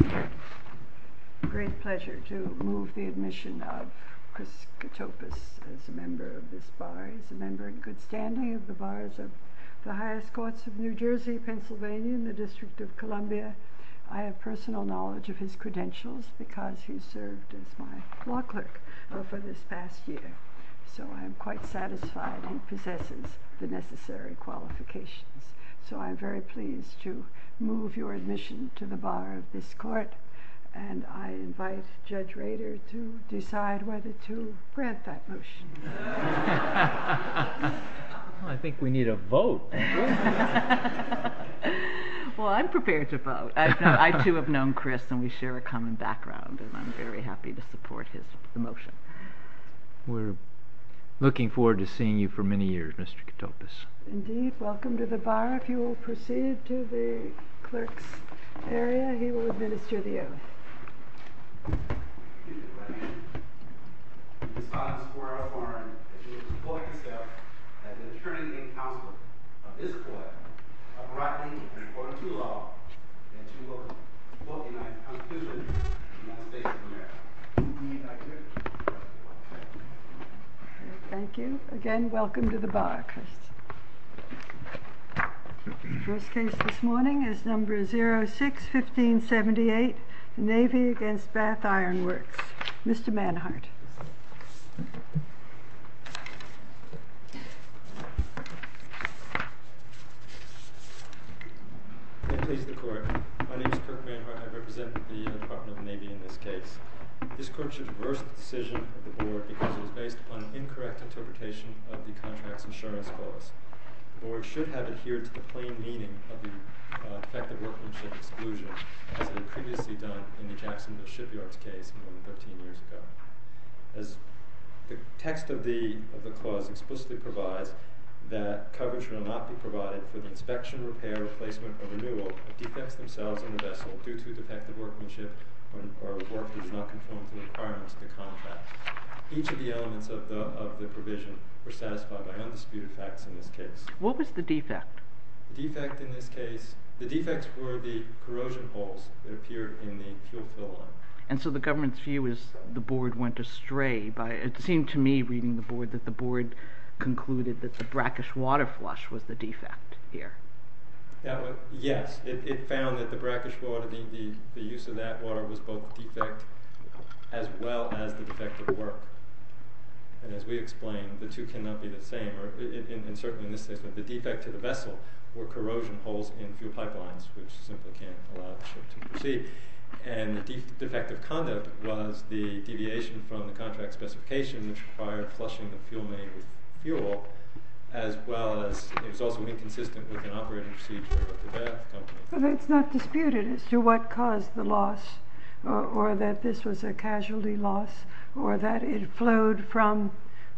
It is a great pleasure to move the admission of Chris Katopus as a member of this Bar. He is a member in good standing of the Bars of the Highest Courts of New Jersey, Pennsylvania and the District of Columbia. I have personal knowledge of his credentials because he served as my law clerk over this past year. So I am quite satisfied he possesses the necessary qualifications. So I am very pleased to move your admission to the Bar of this Court. And I invite Judge Rader to decide whether to grant that motion. I think we need a vote. Well, I am prepared to vote. I too have known Chris and we share a common background and I am very happy to support his motion. We are looking forward to seeing you for many years, Mr. Katopus. Indeed, welcome to the Bar. If you will proceed to the clerk's area, he will administer the oath. Thank you. Again, welcome to the Bar. The first case this morning is number 06-1578, Navy v. Bath Iron Works. Mr. Manhart. May it please the Court. My name is Kirk Manhart. I represent the Department of the Navy in this case. This Court should reverse the decision of the Board because it was based upon an incorrect interpretation of the Contracts Insurance Clause. The Board should have adhered to the plain meaning of the effective workmanship exclusion as it had previously done in the Jacksonville Shipyards case more than 13 years ago. As the text of the clause explicitly provides, that coverage will not be provided for the inspection, repair, replacement, or renewal of defects themselves in the vessel due to defective workmanship or work that does not conform to the requirements of the contract. Each of the elements of the provision were satisfied by undisputed facts in this case. What was the defect? The defect in this case, the defects were the corrosion holes that appeared in the fuel fill line. And so the Government's view is the Board went astray by, it seemed to me reading the Board, that the Board concluded that the brackish water flush was the defect here. Yes, it found that the brackish water, the use of that water was both defect as well as the defective work. And as we explained, the two cannot be the same, and certainly in this case, but the defect to the vessel were corrosion holes in fuel pipelines which simply can't allow the ship to proceed. And the defective conduct was the deviation from the contract specification which required flushing the fuel main with fuel, as well as it was also inconsistent with an operating procedure of the company. It's not disputed as to what caused the loss, or that this was a casualty loss, or that it flowed from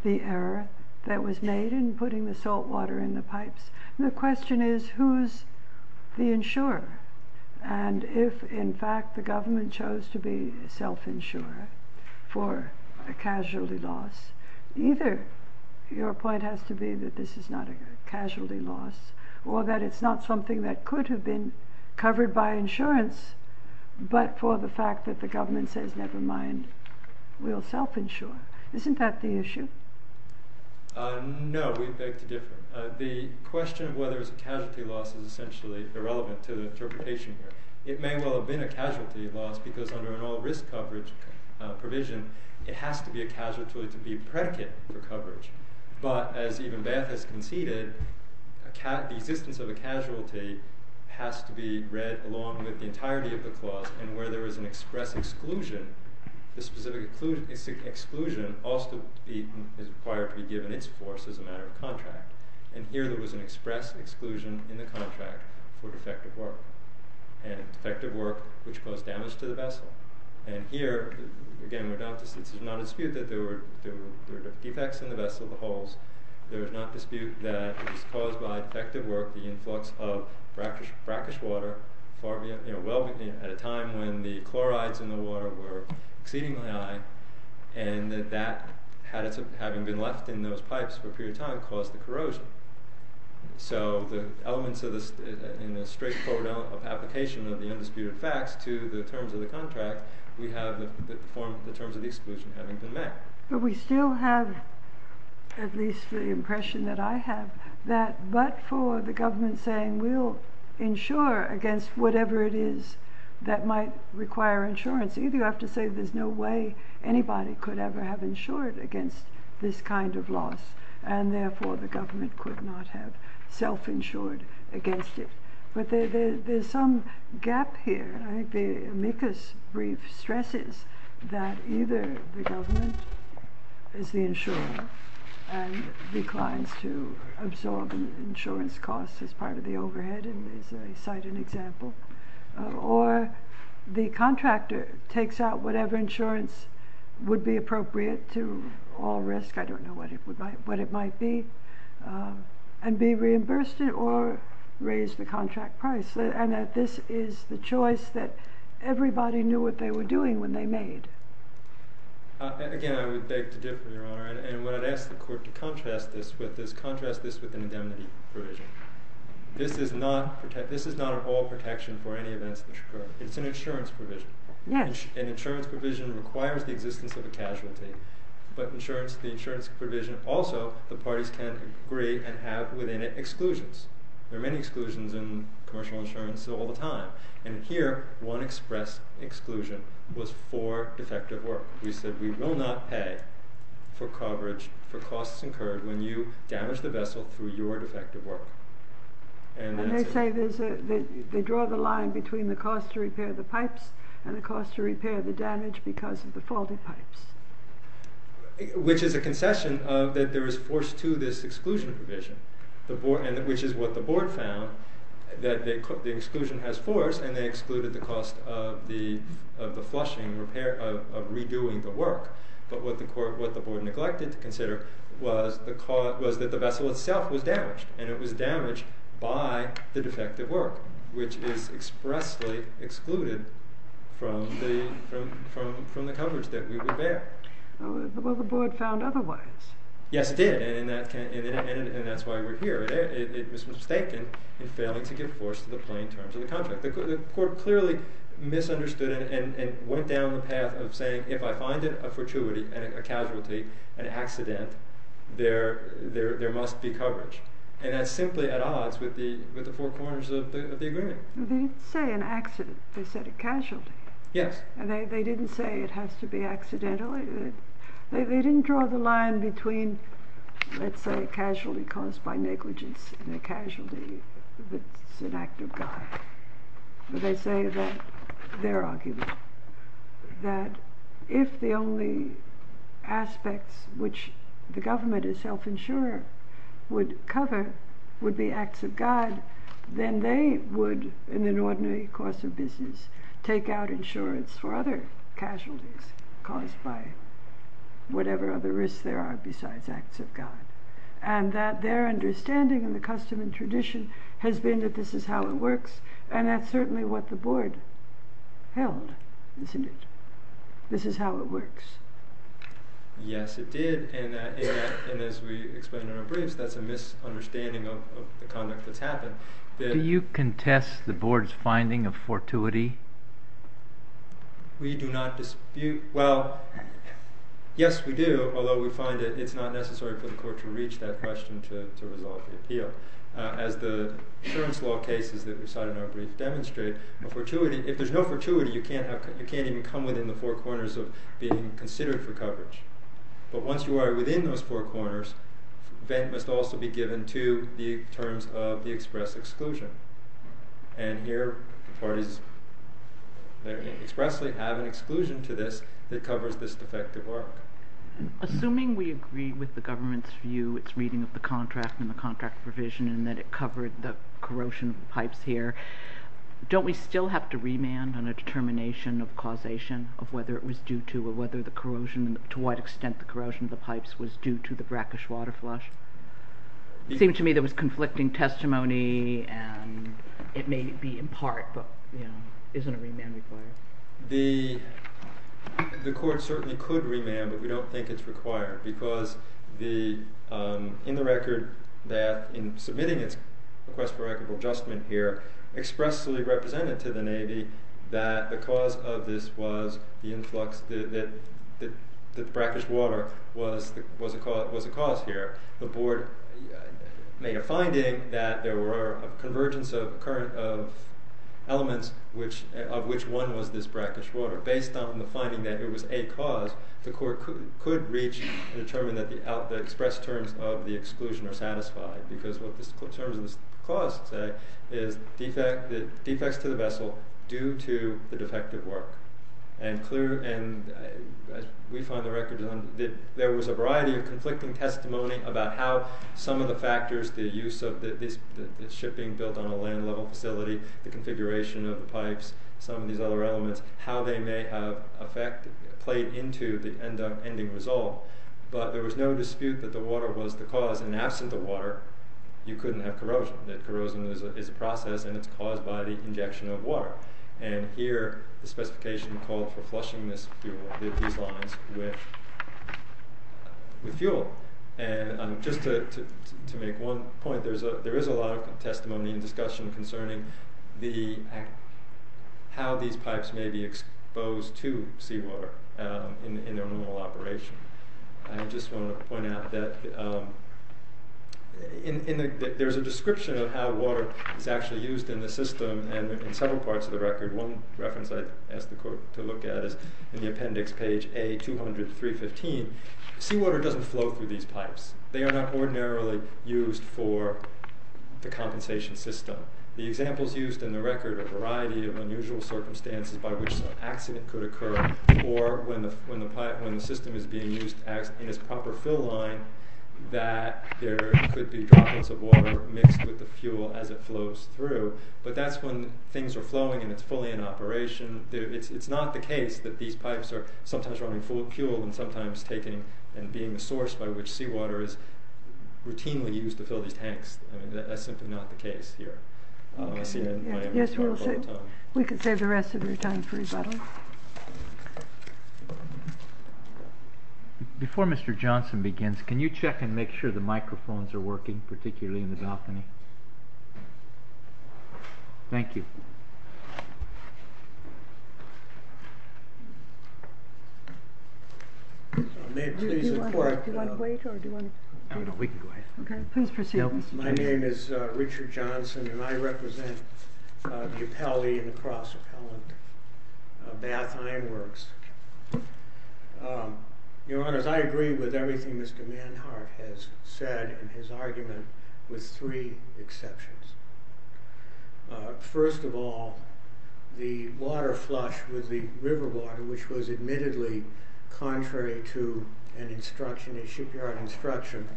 the error that was made in putting the salt water in the pipes. The question is, who's the insurer? And if in fact the Government chose to be self-insurer for a casualty loss, either your point has to be that this is not a casualty loss, or that it's not something that could have been covered by insurance, but for the fact that the Government says, never mind, we'll self-insure. Isn't that the issue? No, we beg to differ. The question of whether it's a casualty loss is essentially irrelevant to the interpretation here. It may well have been a casualty loss because under an all-risk coverage provision, it has to be a casualty to be predicate for coverage. But, as even Bath has conceded, the existence of a casualty has to be read along with the entirety of the clause, and where there is an express exclusion, the specific exclusion also is required to be given its force as a matter of contract. And here there was an express exclusion in the contract for defective work, and defective work which caused damage to the vessel. And here, again, there is not a dispute that there were defects in the vessel, the holes. There is not a dispute that it was caused by defective work, the influx of brackish water at a time when the chlorides in the water were exceedingly high, and that having been left in those pipes for a period of time caused the corrosion. So the elements in the straightforward application of the undisputed facts to the terms of the contract, we have the terms of the exclusion having been met. But we still have, at least the impression that I have, that but for the government saying we'll insure against whatever it is that might require insurance, either you have to say there's no way anybody could ever have insured against this kind of loss, and therefore the government could not have self-insured against it. But there's some gap here. I think the amicus brief stresses that either the government is the insurer and declines to absorb insurance costs as part of the overhead, and as I cite an example, or the contractor takes out whatever insurance would be appropriate to all risk. I don't know what it might be, and be reimbursed it or raise the contract price, and that this is the choice that everybody knew what they were doing when they made. Again, I would beg to differ, Your Honor, and what I'd ask the court to contrast this with is contrast this with an indemnity provision. This is not at all protection for any events that occur. It's an insurance provision. An insurance provision requires the existence of a casualty, but the insurance provision also, the parties can agree and have within it exclusions. There are many exclusions in commercial insurance all the time, and here one express exclusion was for defective work. We said we will not pay for coverage for costs incurred when you damage the vessel through your defective work. And they say they draw the line between the cost to repair the pipes and the cost to repair the damage because of the faulty pipes. Which is a concession that there is force to this exclusion provision, which is what the board found, that the exclusion has force and they excluded the cost of the flushing, of redoing the work. But what the board neglected to consider was that the vessel itself was damaged, and it was damaged by the defective work, which is expressly excluded from the coverage that we would bear. Well, the board found otherwise. Yes, it did, and that's why we're here. It was mistaken in failing to give force to the plain terms of the contract. The court clearly misunderstood it and went down the path of saying, if I find it a fortuity, a casualty, an accident, there must be coverage. And that's simply at odds with the four corners of the agreement. They didn't say an accident, they said a casualty. Yes. They didn't say it has to be accidental. They didn't draw the line between, let's say, a casualty caused by negligence and a casualty that's an act of God. They say that, their argument, that if the only aspects which the government as self-insurer would cover would be acts of God, then they would, in an ordinary course of business, take out insurance for other casualties caused by whatever other risks there are besides acts of God. And that their understanding in the custom and tradition has been that this is how it works, and that's certainly what the board held, isn't it? This is how it works. Yes, it did. And as we explained in our briefs, that's a misunderstanding of the conduct that's happened. Do you contest the board's finding of fortuity? We do not dispute. Well, yes, we do, although we find that it's not necessary for the court to reach that question to resolve the appeal. As the insurance law cases that we saw in our brief demonstrate, a fortuity, if there's no fortuity, you can't even come within the four corners of being considered for coverage. But once you are within those four corners, then it must also be given to the terms of the express exclusion. And here, the parties expressly have an exclusion to this that covers this defective work. Assuming we agree with the government's view, its reading of the contract and the contract provision, and that it covered the corrosion of the pipes here, don't we still have to remand on a determination of causation of whether it was due to, or to what extent the corrosion of the pipes was due to the brackish water flush? It seemed to me there was conflicting testimony, and it may be in part, but isn't a remand required? The court certainly could remand, but we don't think it's required, because in the record that, in submitting its request for record of adjustment here, expressly represented to the Navy that the cause of this was the influx, that the brackish water was a cause here. The board made a finding that there were a convergence of elements of which one was this brackish water. Based on the finding that it was a cause, the court could reach and determine that the express terms of the exclusion are satisfied, because what the terms of this cause say is defects to the vessel due to the defective work. And we find the record that there was a variety of conflicting testimony about how some of the factors, the use of the shipping built on a land-level facility, the configuration of the pipes, some of these other elements, how they may have played into the ending result. But there was no dispute that the water was the cause, and absent the water, you couldn't have corrosion. Corrosion is a process, and it's caused by the injection of water. And here, the specification called for flushing these lines with fuel. Just to make one point, there is a lot of testimony and discussion concerning how these pipes may be exposed to seawater in their normal operation. I just want to point out that there's a description of how water is actually used in the system in several parts of the record. One reference I asked the court to look at is in the appendix, page A200, 315. Seawater doesn't flow through these pipes. They are not ordinarily used for the compensation system. The examples used in the record are a variety of unusual circumstances by which some accident could occur, or when the system is being used in its proper fill line, that there could be droplets of water mixed with the fuel as it flows through. But that's when things are flowing and it's fully in operation. It's not the case that these pipes are sometimes running full of fuel and sometimes being the source by which seawater is routinely used to fill these tanks. That's simply not the case here. I see that in my entire rebuttal time. Yes, we can save the rest of your time for rebuttal. Before Mr. Johnson begins, can you check and make sure the microphones are working, particularly in the balcony? Thank you. My name is Richard Johnson, and I represent the appellee in the Cross Appellant Bath Ironworks. Your Honor, I agree with everything Mr. Manhart has said in his argument, with three exceptions. First of all, the water flush with the river water, which was admittedly contrary to a shipyard instruction,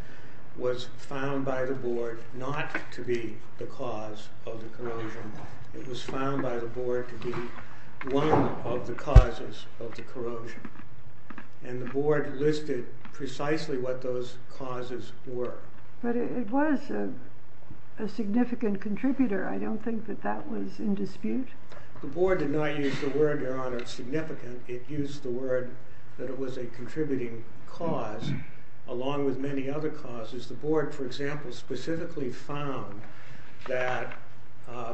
was found by the board not to be the cause of the corrosion. It was found by the board to be one of the causes of the corrosion. And the board listed precisely what those causes were. But it was a significant contributor. I don't think that that was in dispute. The board did not use the word, Your Honor, significant. It used the word that it was a contributing cause, along with many other causes. The board, for example, specifically found that the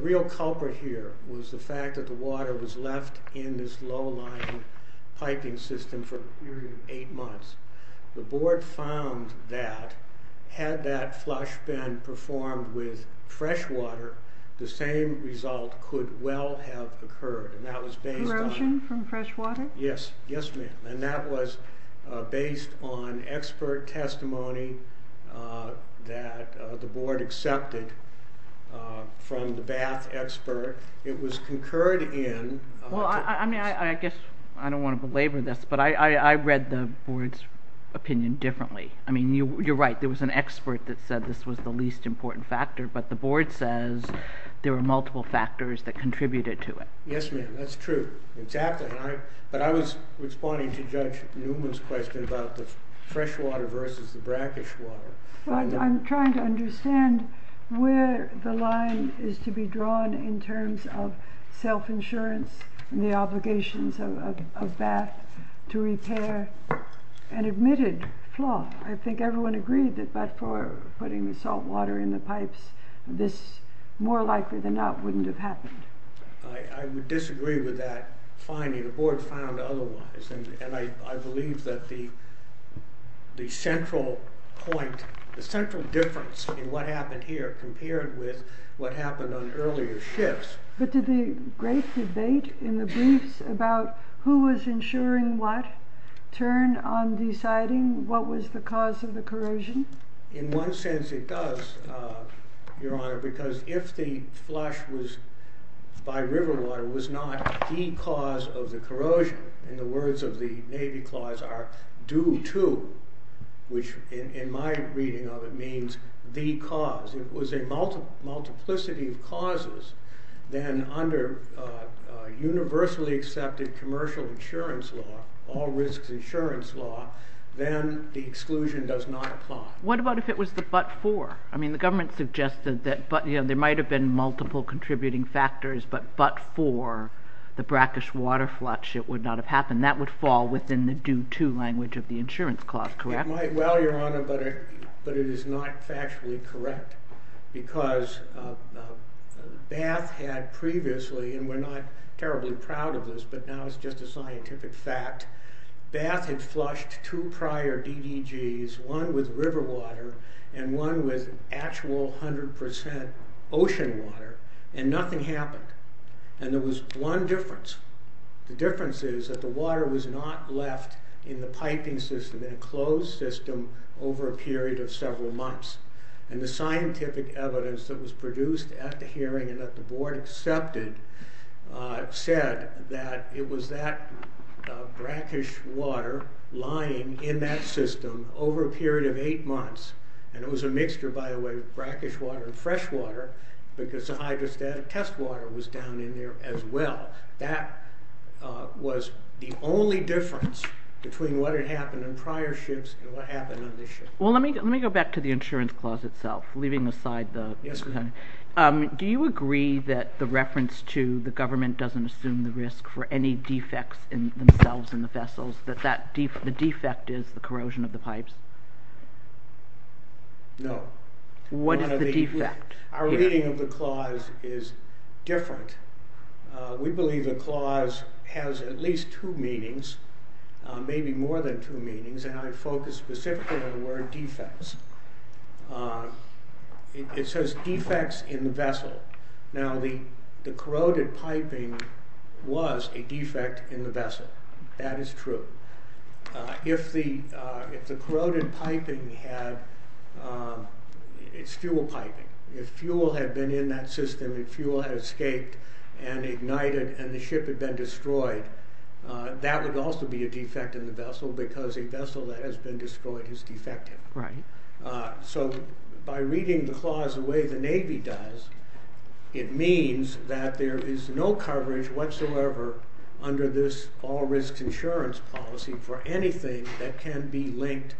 real culprit here was the fact that the water was left in this low-lying piping system for a period of eight months. The board found that, had that flush been performed with fresh water, the same result could well have occurred. Corrosion from fresh water? Yes. Yes, ma'am. And that was based on expert testimony that the board accepted from the bath expert. It was concurred in... I mean, I guess I don't want to belabor this, but I read the board's opinion differently. I mean, you're right. There was an expert that said this was the least important factor, but the board says there were multiple factors that contributed to it. Yes, ma'am. That's true. Exactly. But I was responding to Judge Newman's question about the fresh water versus the brackish water. I'm trying to understand where the line is to be drawn in terms of self-insurance and the obligations of bath to repair an admitted flaw. I think everyone agreed that by putting the salt water in the pipes, this more likely than not wouldn't have happened. I would disagree with that finding. The board found otherwise. And I believe that the central point, the central difference in what happened here compared with what happened on earlier shifts... But did the great debate in the briefs about who was insuring what turn on deciding what was the cause of the corrosion? In one sense, it does, Your Honor, because if the flush was by river water, it was not the cause of the corrosion. In the words of the Navy clause, our due to, which in my reading of it means the cause. It was a multiplicity of causes. Then under universally accepted commercial insurance law, all risks insurance law, then the exclusion does not apply. What about if it was the but for? I mean, the government suggested that there might have been multiple contributing factors, but but for the brackish water flush, it would not have happened. That would fall within the due to language of the insurance clause, correct? Well, Your Honor, but it is not factually correct. Because Bath had previously, and we're not terribly proud of this, but now it's just a scientific fact. Bath had flushed two prior DDGs, one with river water and one with actual 100% ocean water, and nothing happened. And there was one difference. The difference is that the water was not left in the piping system, in a closed system, over a period of several months. And the scientific evidence that was produced at the hearing and that the board accepted said that it was that brackish water lying in that system over a period of eight months. And it was a mixture, by the way, of brackish water and fresh water, because the hydrostatic test water was down in there as well. That was the only difference between what had happened in prior ships and what happened on this ship. Well, let me go back to the insurance clause itself, leaving aside the... Yes, Your Honor. Do you agree that the reference to the government doesn't assume the risk for any defects in themselves in the vessels, that the defect is the corrosion of the pipes? No. What is the defect? Our reading of the clause is different. We believe the clause has at least two meanings, maybe more than two meanings, and I focus specifically on the word defects. It says defects in the vessel. Now, the corroded piping was a defect in the vessel. That is true. If the corroded piping had... it's fuel piping. If fuel had been in that system, if fuel had escaped and ignited and the ship had been destroyed, that would also be a defect in the vessel, because a vessel that has been destroyed is defective. Right. So, by reading the clause the way the Navy does, it means that there is no coverage whatsoever under this all-risk insurance policy for anything that can be linked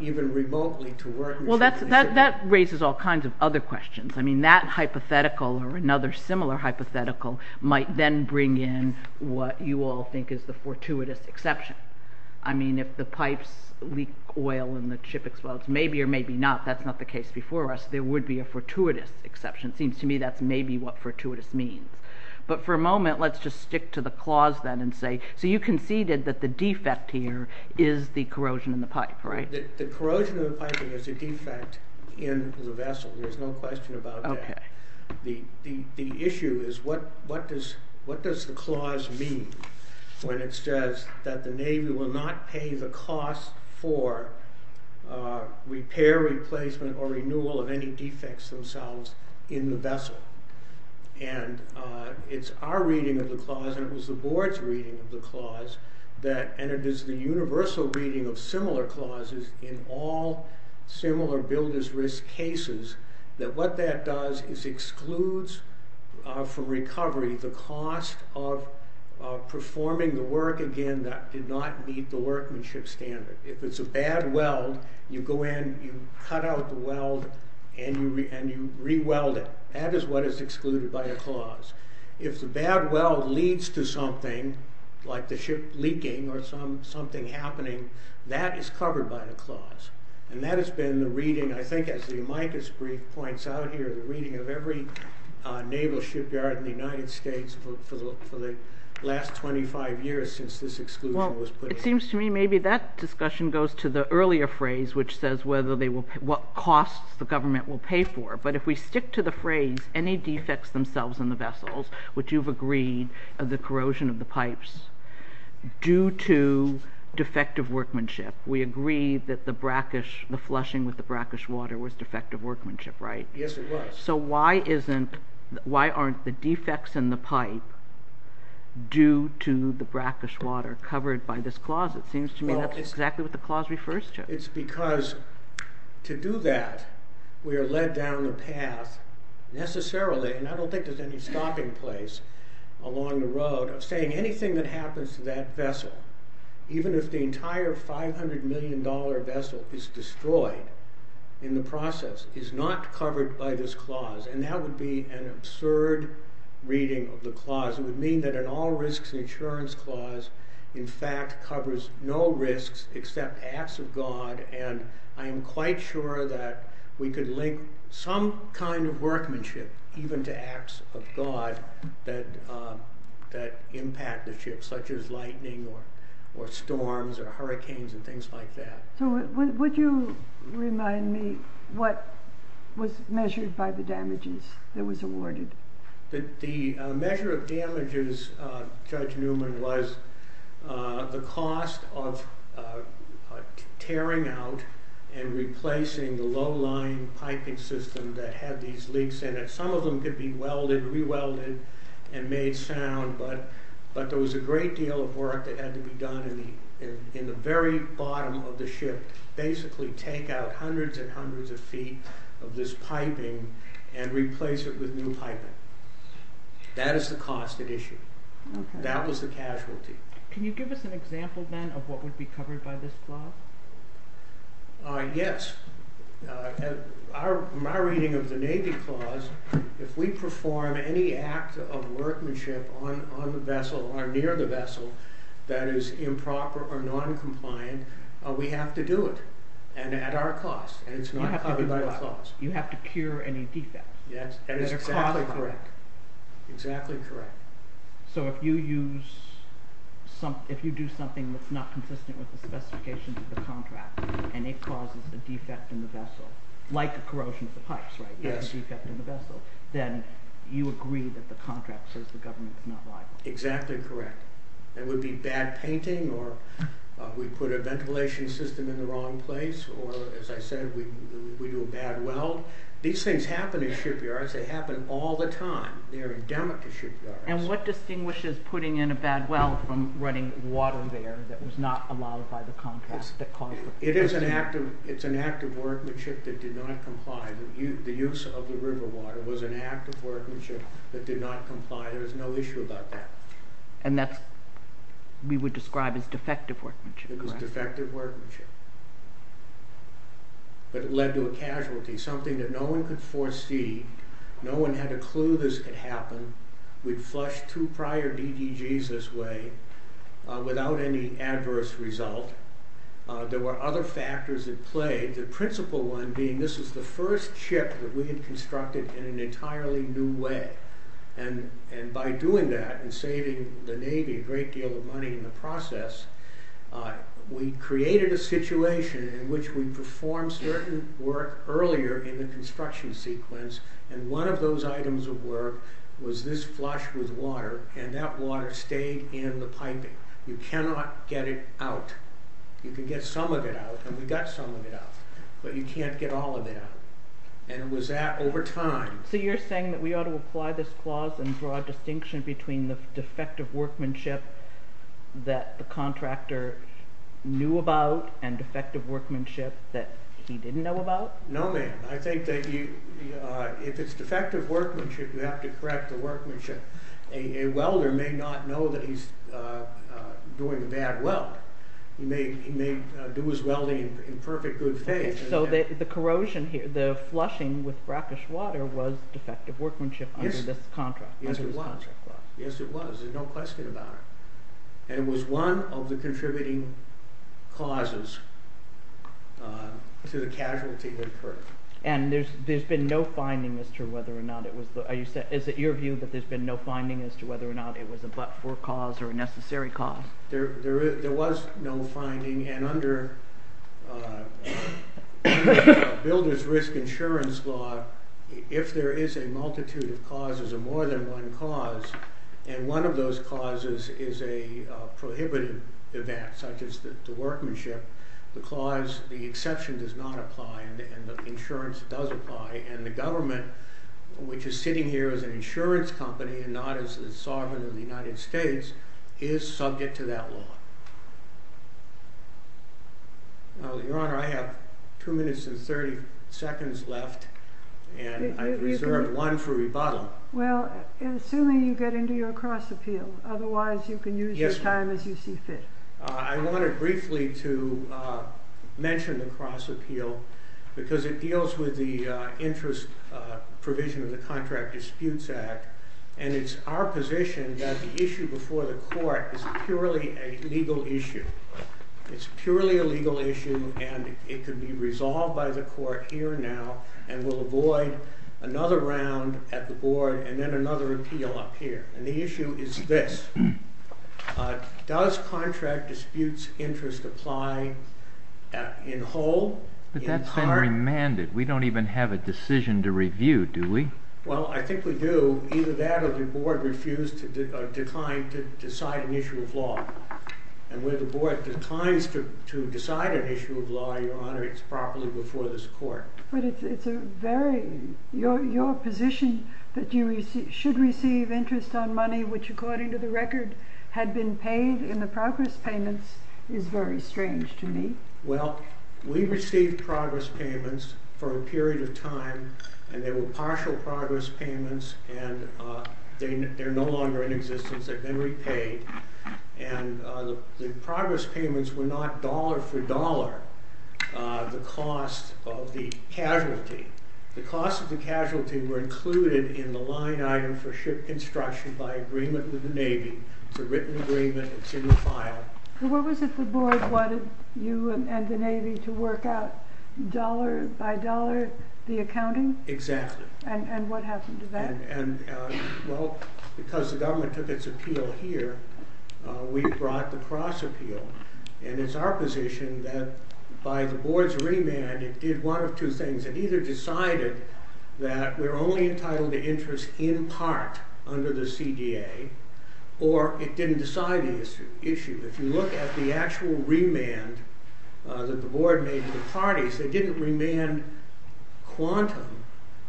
even remotely to work... Well, that raises all kinds of other questions. I mean, that hypothetical or another similar hypothetical might then bring in what you all think is the fortuitous exception. I mean, if the pipes leak oil and the ship explodes, maybe or maybe not, that's not the case before us. There would be a fortuitous exception. It seems to me that's maybe what fortuitous means. But for a moment, let's just stick to the clause then and say, so you conceded that the defect here is the corrosion in the pipe, right? The corrosion of the piping is a defect in the vessel. There's no question about that. The issue is what does the clause mean when it says that the Navy will not pay the cost for repair, replacement, or renewal of any defects themselves in the vessel? And it's our reading of the clause, and it was the board's reading of the clause, and it is the universal reading of similar clauses in all similar builder's risk cases, that what that does is excludes from recovery the cost of performing the work, again, that did not meet the workmanship standard. If it's a bad weld, you go in, you cut out the weld, and you re-weld it. That is what is excluded by the clause. If the bad weld leads to something, like the ship leaking or something happening, that is covered by the clause. And that has been the reading, I think, as the Amicus brief points out here, the reading of every naval shipyard in the United States for the last 25 years since this exclusion was put in place. It seems to me maybe that discussion goes to the earlier phrase, which says what costs the government will pay for. But if we stick to the phrase, any defects themselves in the vessels, which you've agreed, the corrosion of the pipes, due to defective workmanship, we agree that the flushing with the brackish water was defective workmanship, right? Yes, it was. So why aren't the defects in the pipe due to the brackish water covered by this clause? It seems to me that's exactly what the clause refers to. It's because to do that, we are led down the path, necessarily, and I don't think there's any stopping place along the road, saying anything that happens to that vessel, even if the entire $500 million vessel is destroyed in the process, is not covered by this clause. And that would be an absurd reading of the clause. It would mean that an all risks insurance clause, in fact, covers no risks except acts of God, and I am quite sure that we could link some kind of workmanship, even to acts of God, that impact the ship, such as lightning or storms or hurricanes and things like that. So would you remind me what was measured by the damages that was awarded? The measure of damages, Judge Newman, was the cost of tearing out and replacing the low-lying piping system that had these leaks in it. Some of them could be welded, re-welded, and made sound, but there was a great deal of work that had to be done in the very bottom of the ship, basically take out hundreds and hundreds of feet of this piping and replace it with new piping. That is the cost at issue. That was the casualty. Can you give us an example, then, of what would be covered by this clause? Yes. In my reading of the Navy clause, if we perform any act of workmanship on the vessel or near the vessel that is improper or non-compliant, we have to do it, and at our cost. And it's not covered by the clause. You have to cure any defects. Yes, exactly correct. Exactly correct. So if you do something that's not consistent with the specifications of the contract, and it causes a defect in the vessel, like the corrosion of the pipes, then you agree that the contract says the government is not liable. Exactly correct. It would be bad painting, or we put a ventilation system in the wrong place, or as I said, we do a bad weld. These things happen in shipyards. They happen all the time. They are endemic to shipyards. And what distinguishes putting in a bad weld from running water there that was not allowed by the contract? It is an act of workmanship that did not comply. The use of the river water was an act of workmanship that did not comply. There is no issue about that. And that we would describe as defective workmanship, correct? Defective workmanship. But it led to a casualty, something that no one could foresee. No one had a clue this could happen. We'd flushed two prior DDGs this way without any adverse result. There were other factors at play, the principal one being this was the first ship that we had constructed in an entirely new way. And by doing that and saving the Navy a great deal of money in the process, we created a situation in which we performed certain work earlier in the construction sequence, and one of those items of work was this flush with water, and that water stayed in the piping. You cannot get it out. You can get some of it out, and we got some of it out, but you can't get all of it out. And it was that over time. So you're saying that we ought to apply this clause and draw a distinction between the defective workmanship that the contractor knew about and defective workmanship that he didn't know about? No, ma'am. I think that if it's defective workmanship, you have to correct the workmanship. A welder may not know that he's doing a bad weld. He may do his welding in perfect good faith. So the corrosion here, the flushing with brackish water was defective workmanship under this contract? Yes, it was. There's no question about it. And it was one of the contributing causes to the casualty that occurred. And there's been no finding as to whether or not it was, is it your view that there's been no finding as to whether or not it was a but-for cause or a necessary cause? There was no finding, and under Builder's Risk Insurance Law, if there is a multitude of causes or more than one cause, and one of those causes is a prohibited event, such as the workmanship, the clause, the exception does not apply, and the insurance does apply, and the government, which is sitting here as an insurance company and not as the sovereign of the United States, is subject to that law. Your Honor, I have two minutes and thirty seconds left, and I've reserved one for rebuttal. Well, assuming you get into your cross-appeal. Otherwise, you can use your time as you see fit. I wanted briefly to mention the cross-appeal because it deals with the interest provision of the Contract Disputes Act, and it's our position that the issue before the court is purely a legal issue. It's purely a legal issue, and it can be resolved by the court here and now, and we'll avoid another round at the board and then another appeal up here. And the issue is this. Does contract disputes interest apply in whole? But that's been remanded. We don't even have a decision to review, do we? Well, I think we do. Either that or the board refused to decline to decide an issue of law. And when the board declines to decide an issue of law, Your Honor, it's properly before this court. But it's a very... your position that you should receive interest on money which, according to the record, had been paid in the progress payments is very strange to me. Well, we received progress payments for a period of time, and they were partial progress payments, and they're no longer in existence. They've been repaid, and the progress payments were not dollar for dollar the cost of the casualty. The cost of the casualty were included in the line item for ship construction by agreement with the Navy. It's a written agreement. It's in the file. So what was it the board wanted you and the Navy to work out, dollar by dollar, the accounting? Exactly. And what happened to that? Well, because the government took its appeal here, we brought the cross appeal. And it's our position that by the board's remand, it did one of two things. It either decided that we're only entitled to interest in part under the CDA, or it didn't decide the issue. If you look at the actual remand that the board made to the parties, they didn't remand quantum.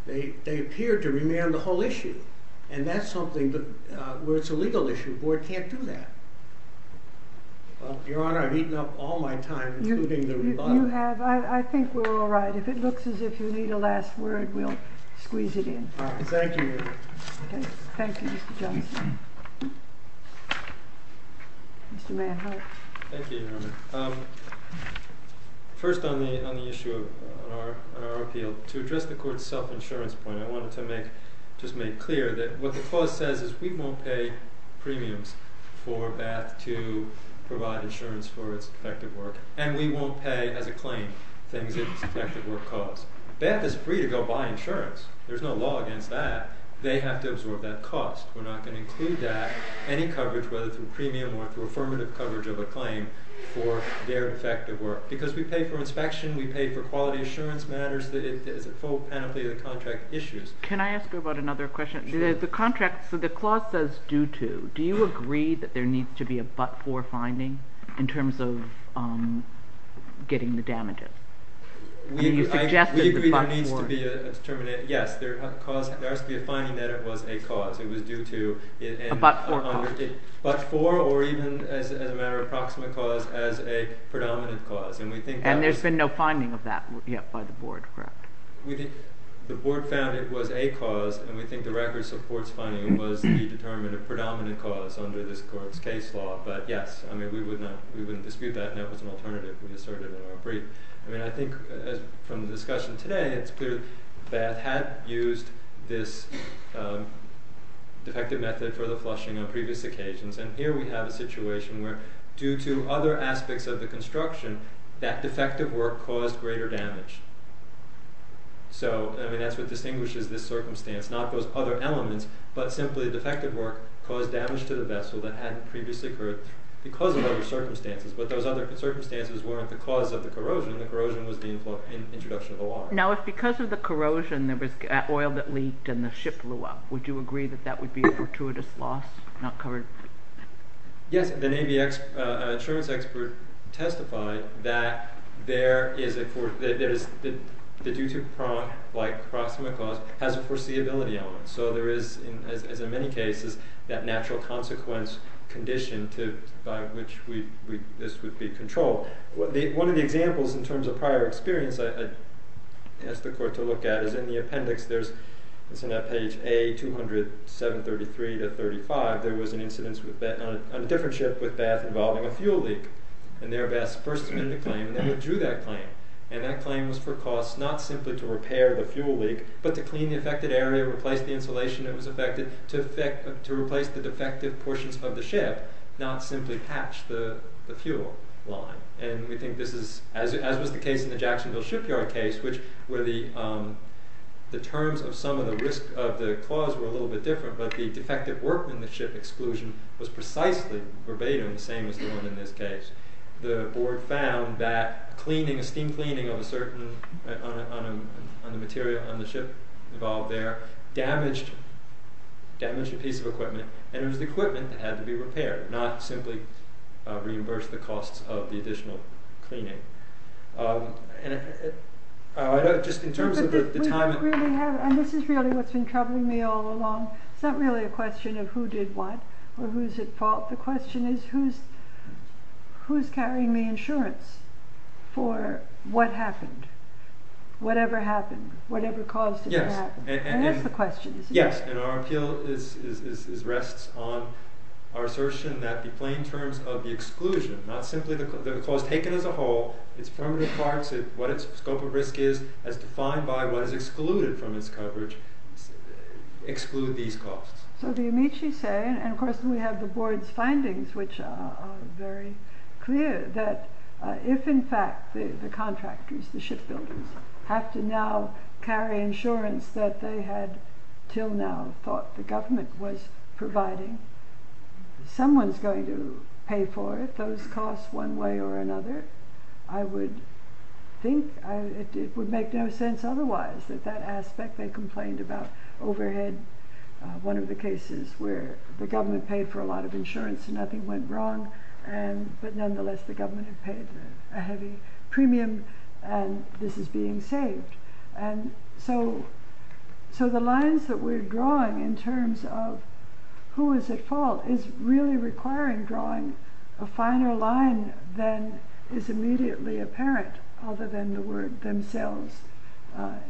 They appeared to remand the whole issue, and that's something where it's a legal issue. The board can't do that. Your Honor, I've eaten up all my time including the rebuttal. You have. I think we're all right. If it looks as if you need a last word, we'll squeeze it in. All right. Thank you, Your Honor. Okay. Thank you, Mr. Johnson. Mr. Manhart. Thank you, Your Honor. First on the issue of our appeal, to address the court's self-insurance point, I wanted to just make clear that what the clause says is we won't pay premiums for Bath to provide insurance for its effective work, and we won't pay as a claim things that its effective work costs. Bath is free to go buy insurance. There's no law against that. They have to absorb that cost. We're not going to include that, any coverage, whether through premium or through affirmative coverage of a claim for their effective work, because we pay for inspection. We pay for quality assurance matters. It's a full penalty of the contract issues. Can I ask you about another question? The contract, so the clause says due to. Do you agree that there needs to be a but-for finding in terms of getting the damages? I mean, you suggested the but-for. We agree there needs to be a determinate. Yes, there has to be a finding that it was a cause. It was due to. A but-for cause. A but-for or even as a matter of proximate cause as a predominant cause, and we think that. And there's been no finding of that yet by the board, correct? The board found it was a cause, and we think the record supports finding it was a determinate predominant cause under this court's case law, but yes. I mean, we wouldn't dispute that, and that was an alternative we asserted in our brief. I mean, I think from the discussion today, it's clear that Bath had used this defective method for the flushing on previous occasions, and here we have a situation where due to other aspects of the construction, that defective work caused greater damage. So, I mean, that's what distinguishes this circumstance, not those other elements, but simply the defective work caused damage to the vessel that hadn't previously occurred because of other circumstances, but those other circumstances weren't the cause of the corrosion. The corrosion was the introduction of the water. Now, if because of the corrosion there was oil that leaked and the ship blew up, would you agree that that would be a fortuitous loss not covered? Yes. The Navy insurance expert testified that there is a – the due to prompt like proximate cause has a foreseeability element. So there is, as in many cases, that natural consequence condition by which this would be controlled. One of the examples in terms of prior experience I asked the court to look at is in the appendix. It's on that page A-200-733-35. There was an incident on a different ship with Bath involving a fuel leak, and there Bath first made the claim and then withdrew that claim. And that claim was for costs not simply to repair the fuel leak, but to clean the affected area, replace the insulation that was affected, to replace the defective portions of the ship, not simply patch the fuel line. And we think this is, as was the case in the Jacksonville shipyard case, which where the terms of some of the risk of the clause were a little bit different, but the defective work in the ship exclusion was precisely verbatim the same as the one in this case. The board found that cleaning, steam cleaning of a certain, on the material on the ship involved there, damaged a piece of equipment, and it was the equipment that had to be repaired, not simply reimburse the costs of the additional cleaning. Just in terms of the time... And this is really what's been troubling me all along. It's not really a question of who did what or who's at fault. The question is who's carrying the insurance for what happened, whatever happened, whatever caused it to happen. That's the question, isn't it? Yes, and our appeal rests on our assertion that the plain terms of the exclusion, not simply the clause taken as a whole, its permanent parts, what its scope of risk is, as defined by what is excluded from its coverage, exclude these costs. So the Amici say, and of course we have the board's findings which are very clear, that if in fact the contractors, the shipbuilders, have to now carry insurance that they had till now thought the government was providing, someone's going to pay for it, those costs one way or another. I would think it would make no sense otherwise, that that aspect they complained about overhead. One of the cases where the government paid for a lot of insurance and nothing went wrong, but nonetheless the government had paid a heavy premium and this is being saved. And so the lines that we're drawing in terms of who is at fault is really requiring drawing a finer line than is immediately apparent, other than the word themselves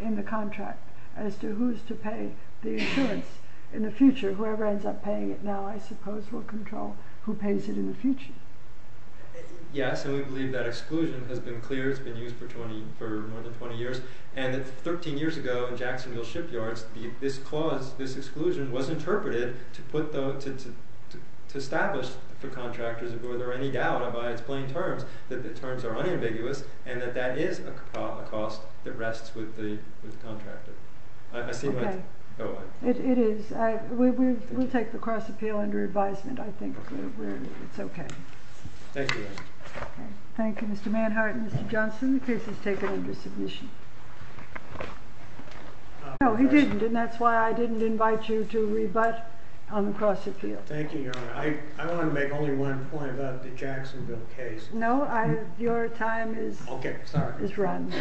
in the contract, as to who's to pay the insurance in the future. Whoever ends up paying it now I suppose will control who pays it in the future. Yes, and we believe that exclusion has been clear, it's been used for more than 20 years, and that 13 years ago in Jacksonville shipyards this clause, this exclusion, was interpreted to establish for contractors if there were any doubt about its plain terms, that the terms are unambiguous, and that that is a cost that rests with the contractor. Okay. It is. We'll take the cross-appeal under advisement, I think. It's okay. Thank you. Thank you, Mr. Manhart and Mr. Johnson. The case is taken under submission. No, he didn't, and that's why I didn't invite you to rebut on the cross-appeal. Thank you, Your Honor. I want to make only one point about the Jacksonville case. No, your time is run.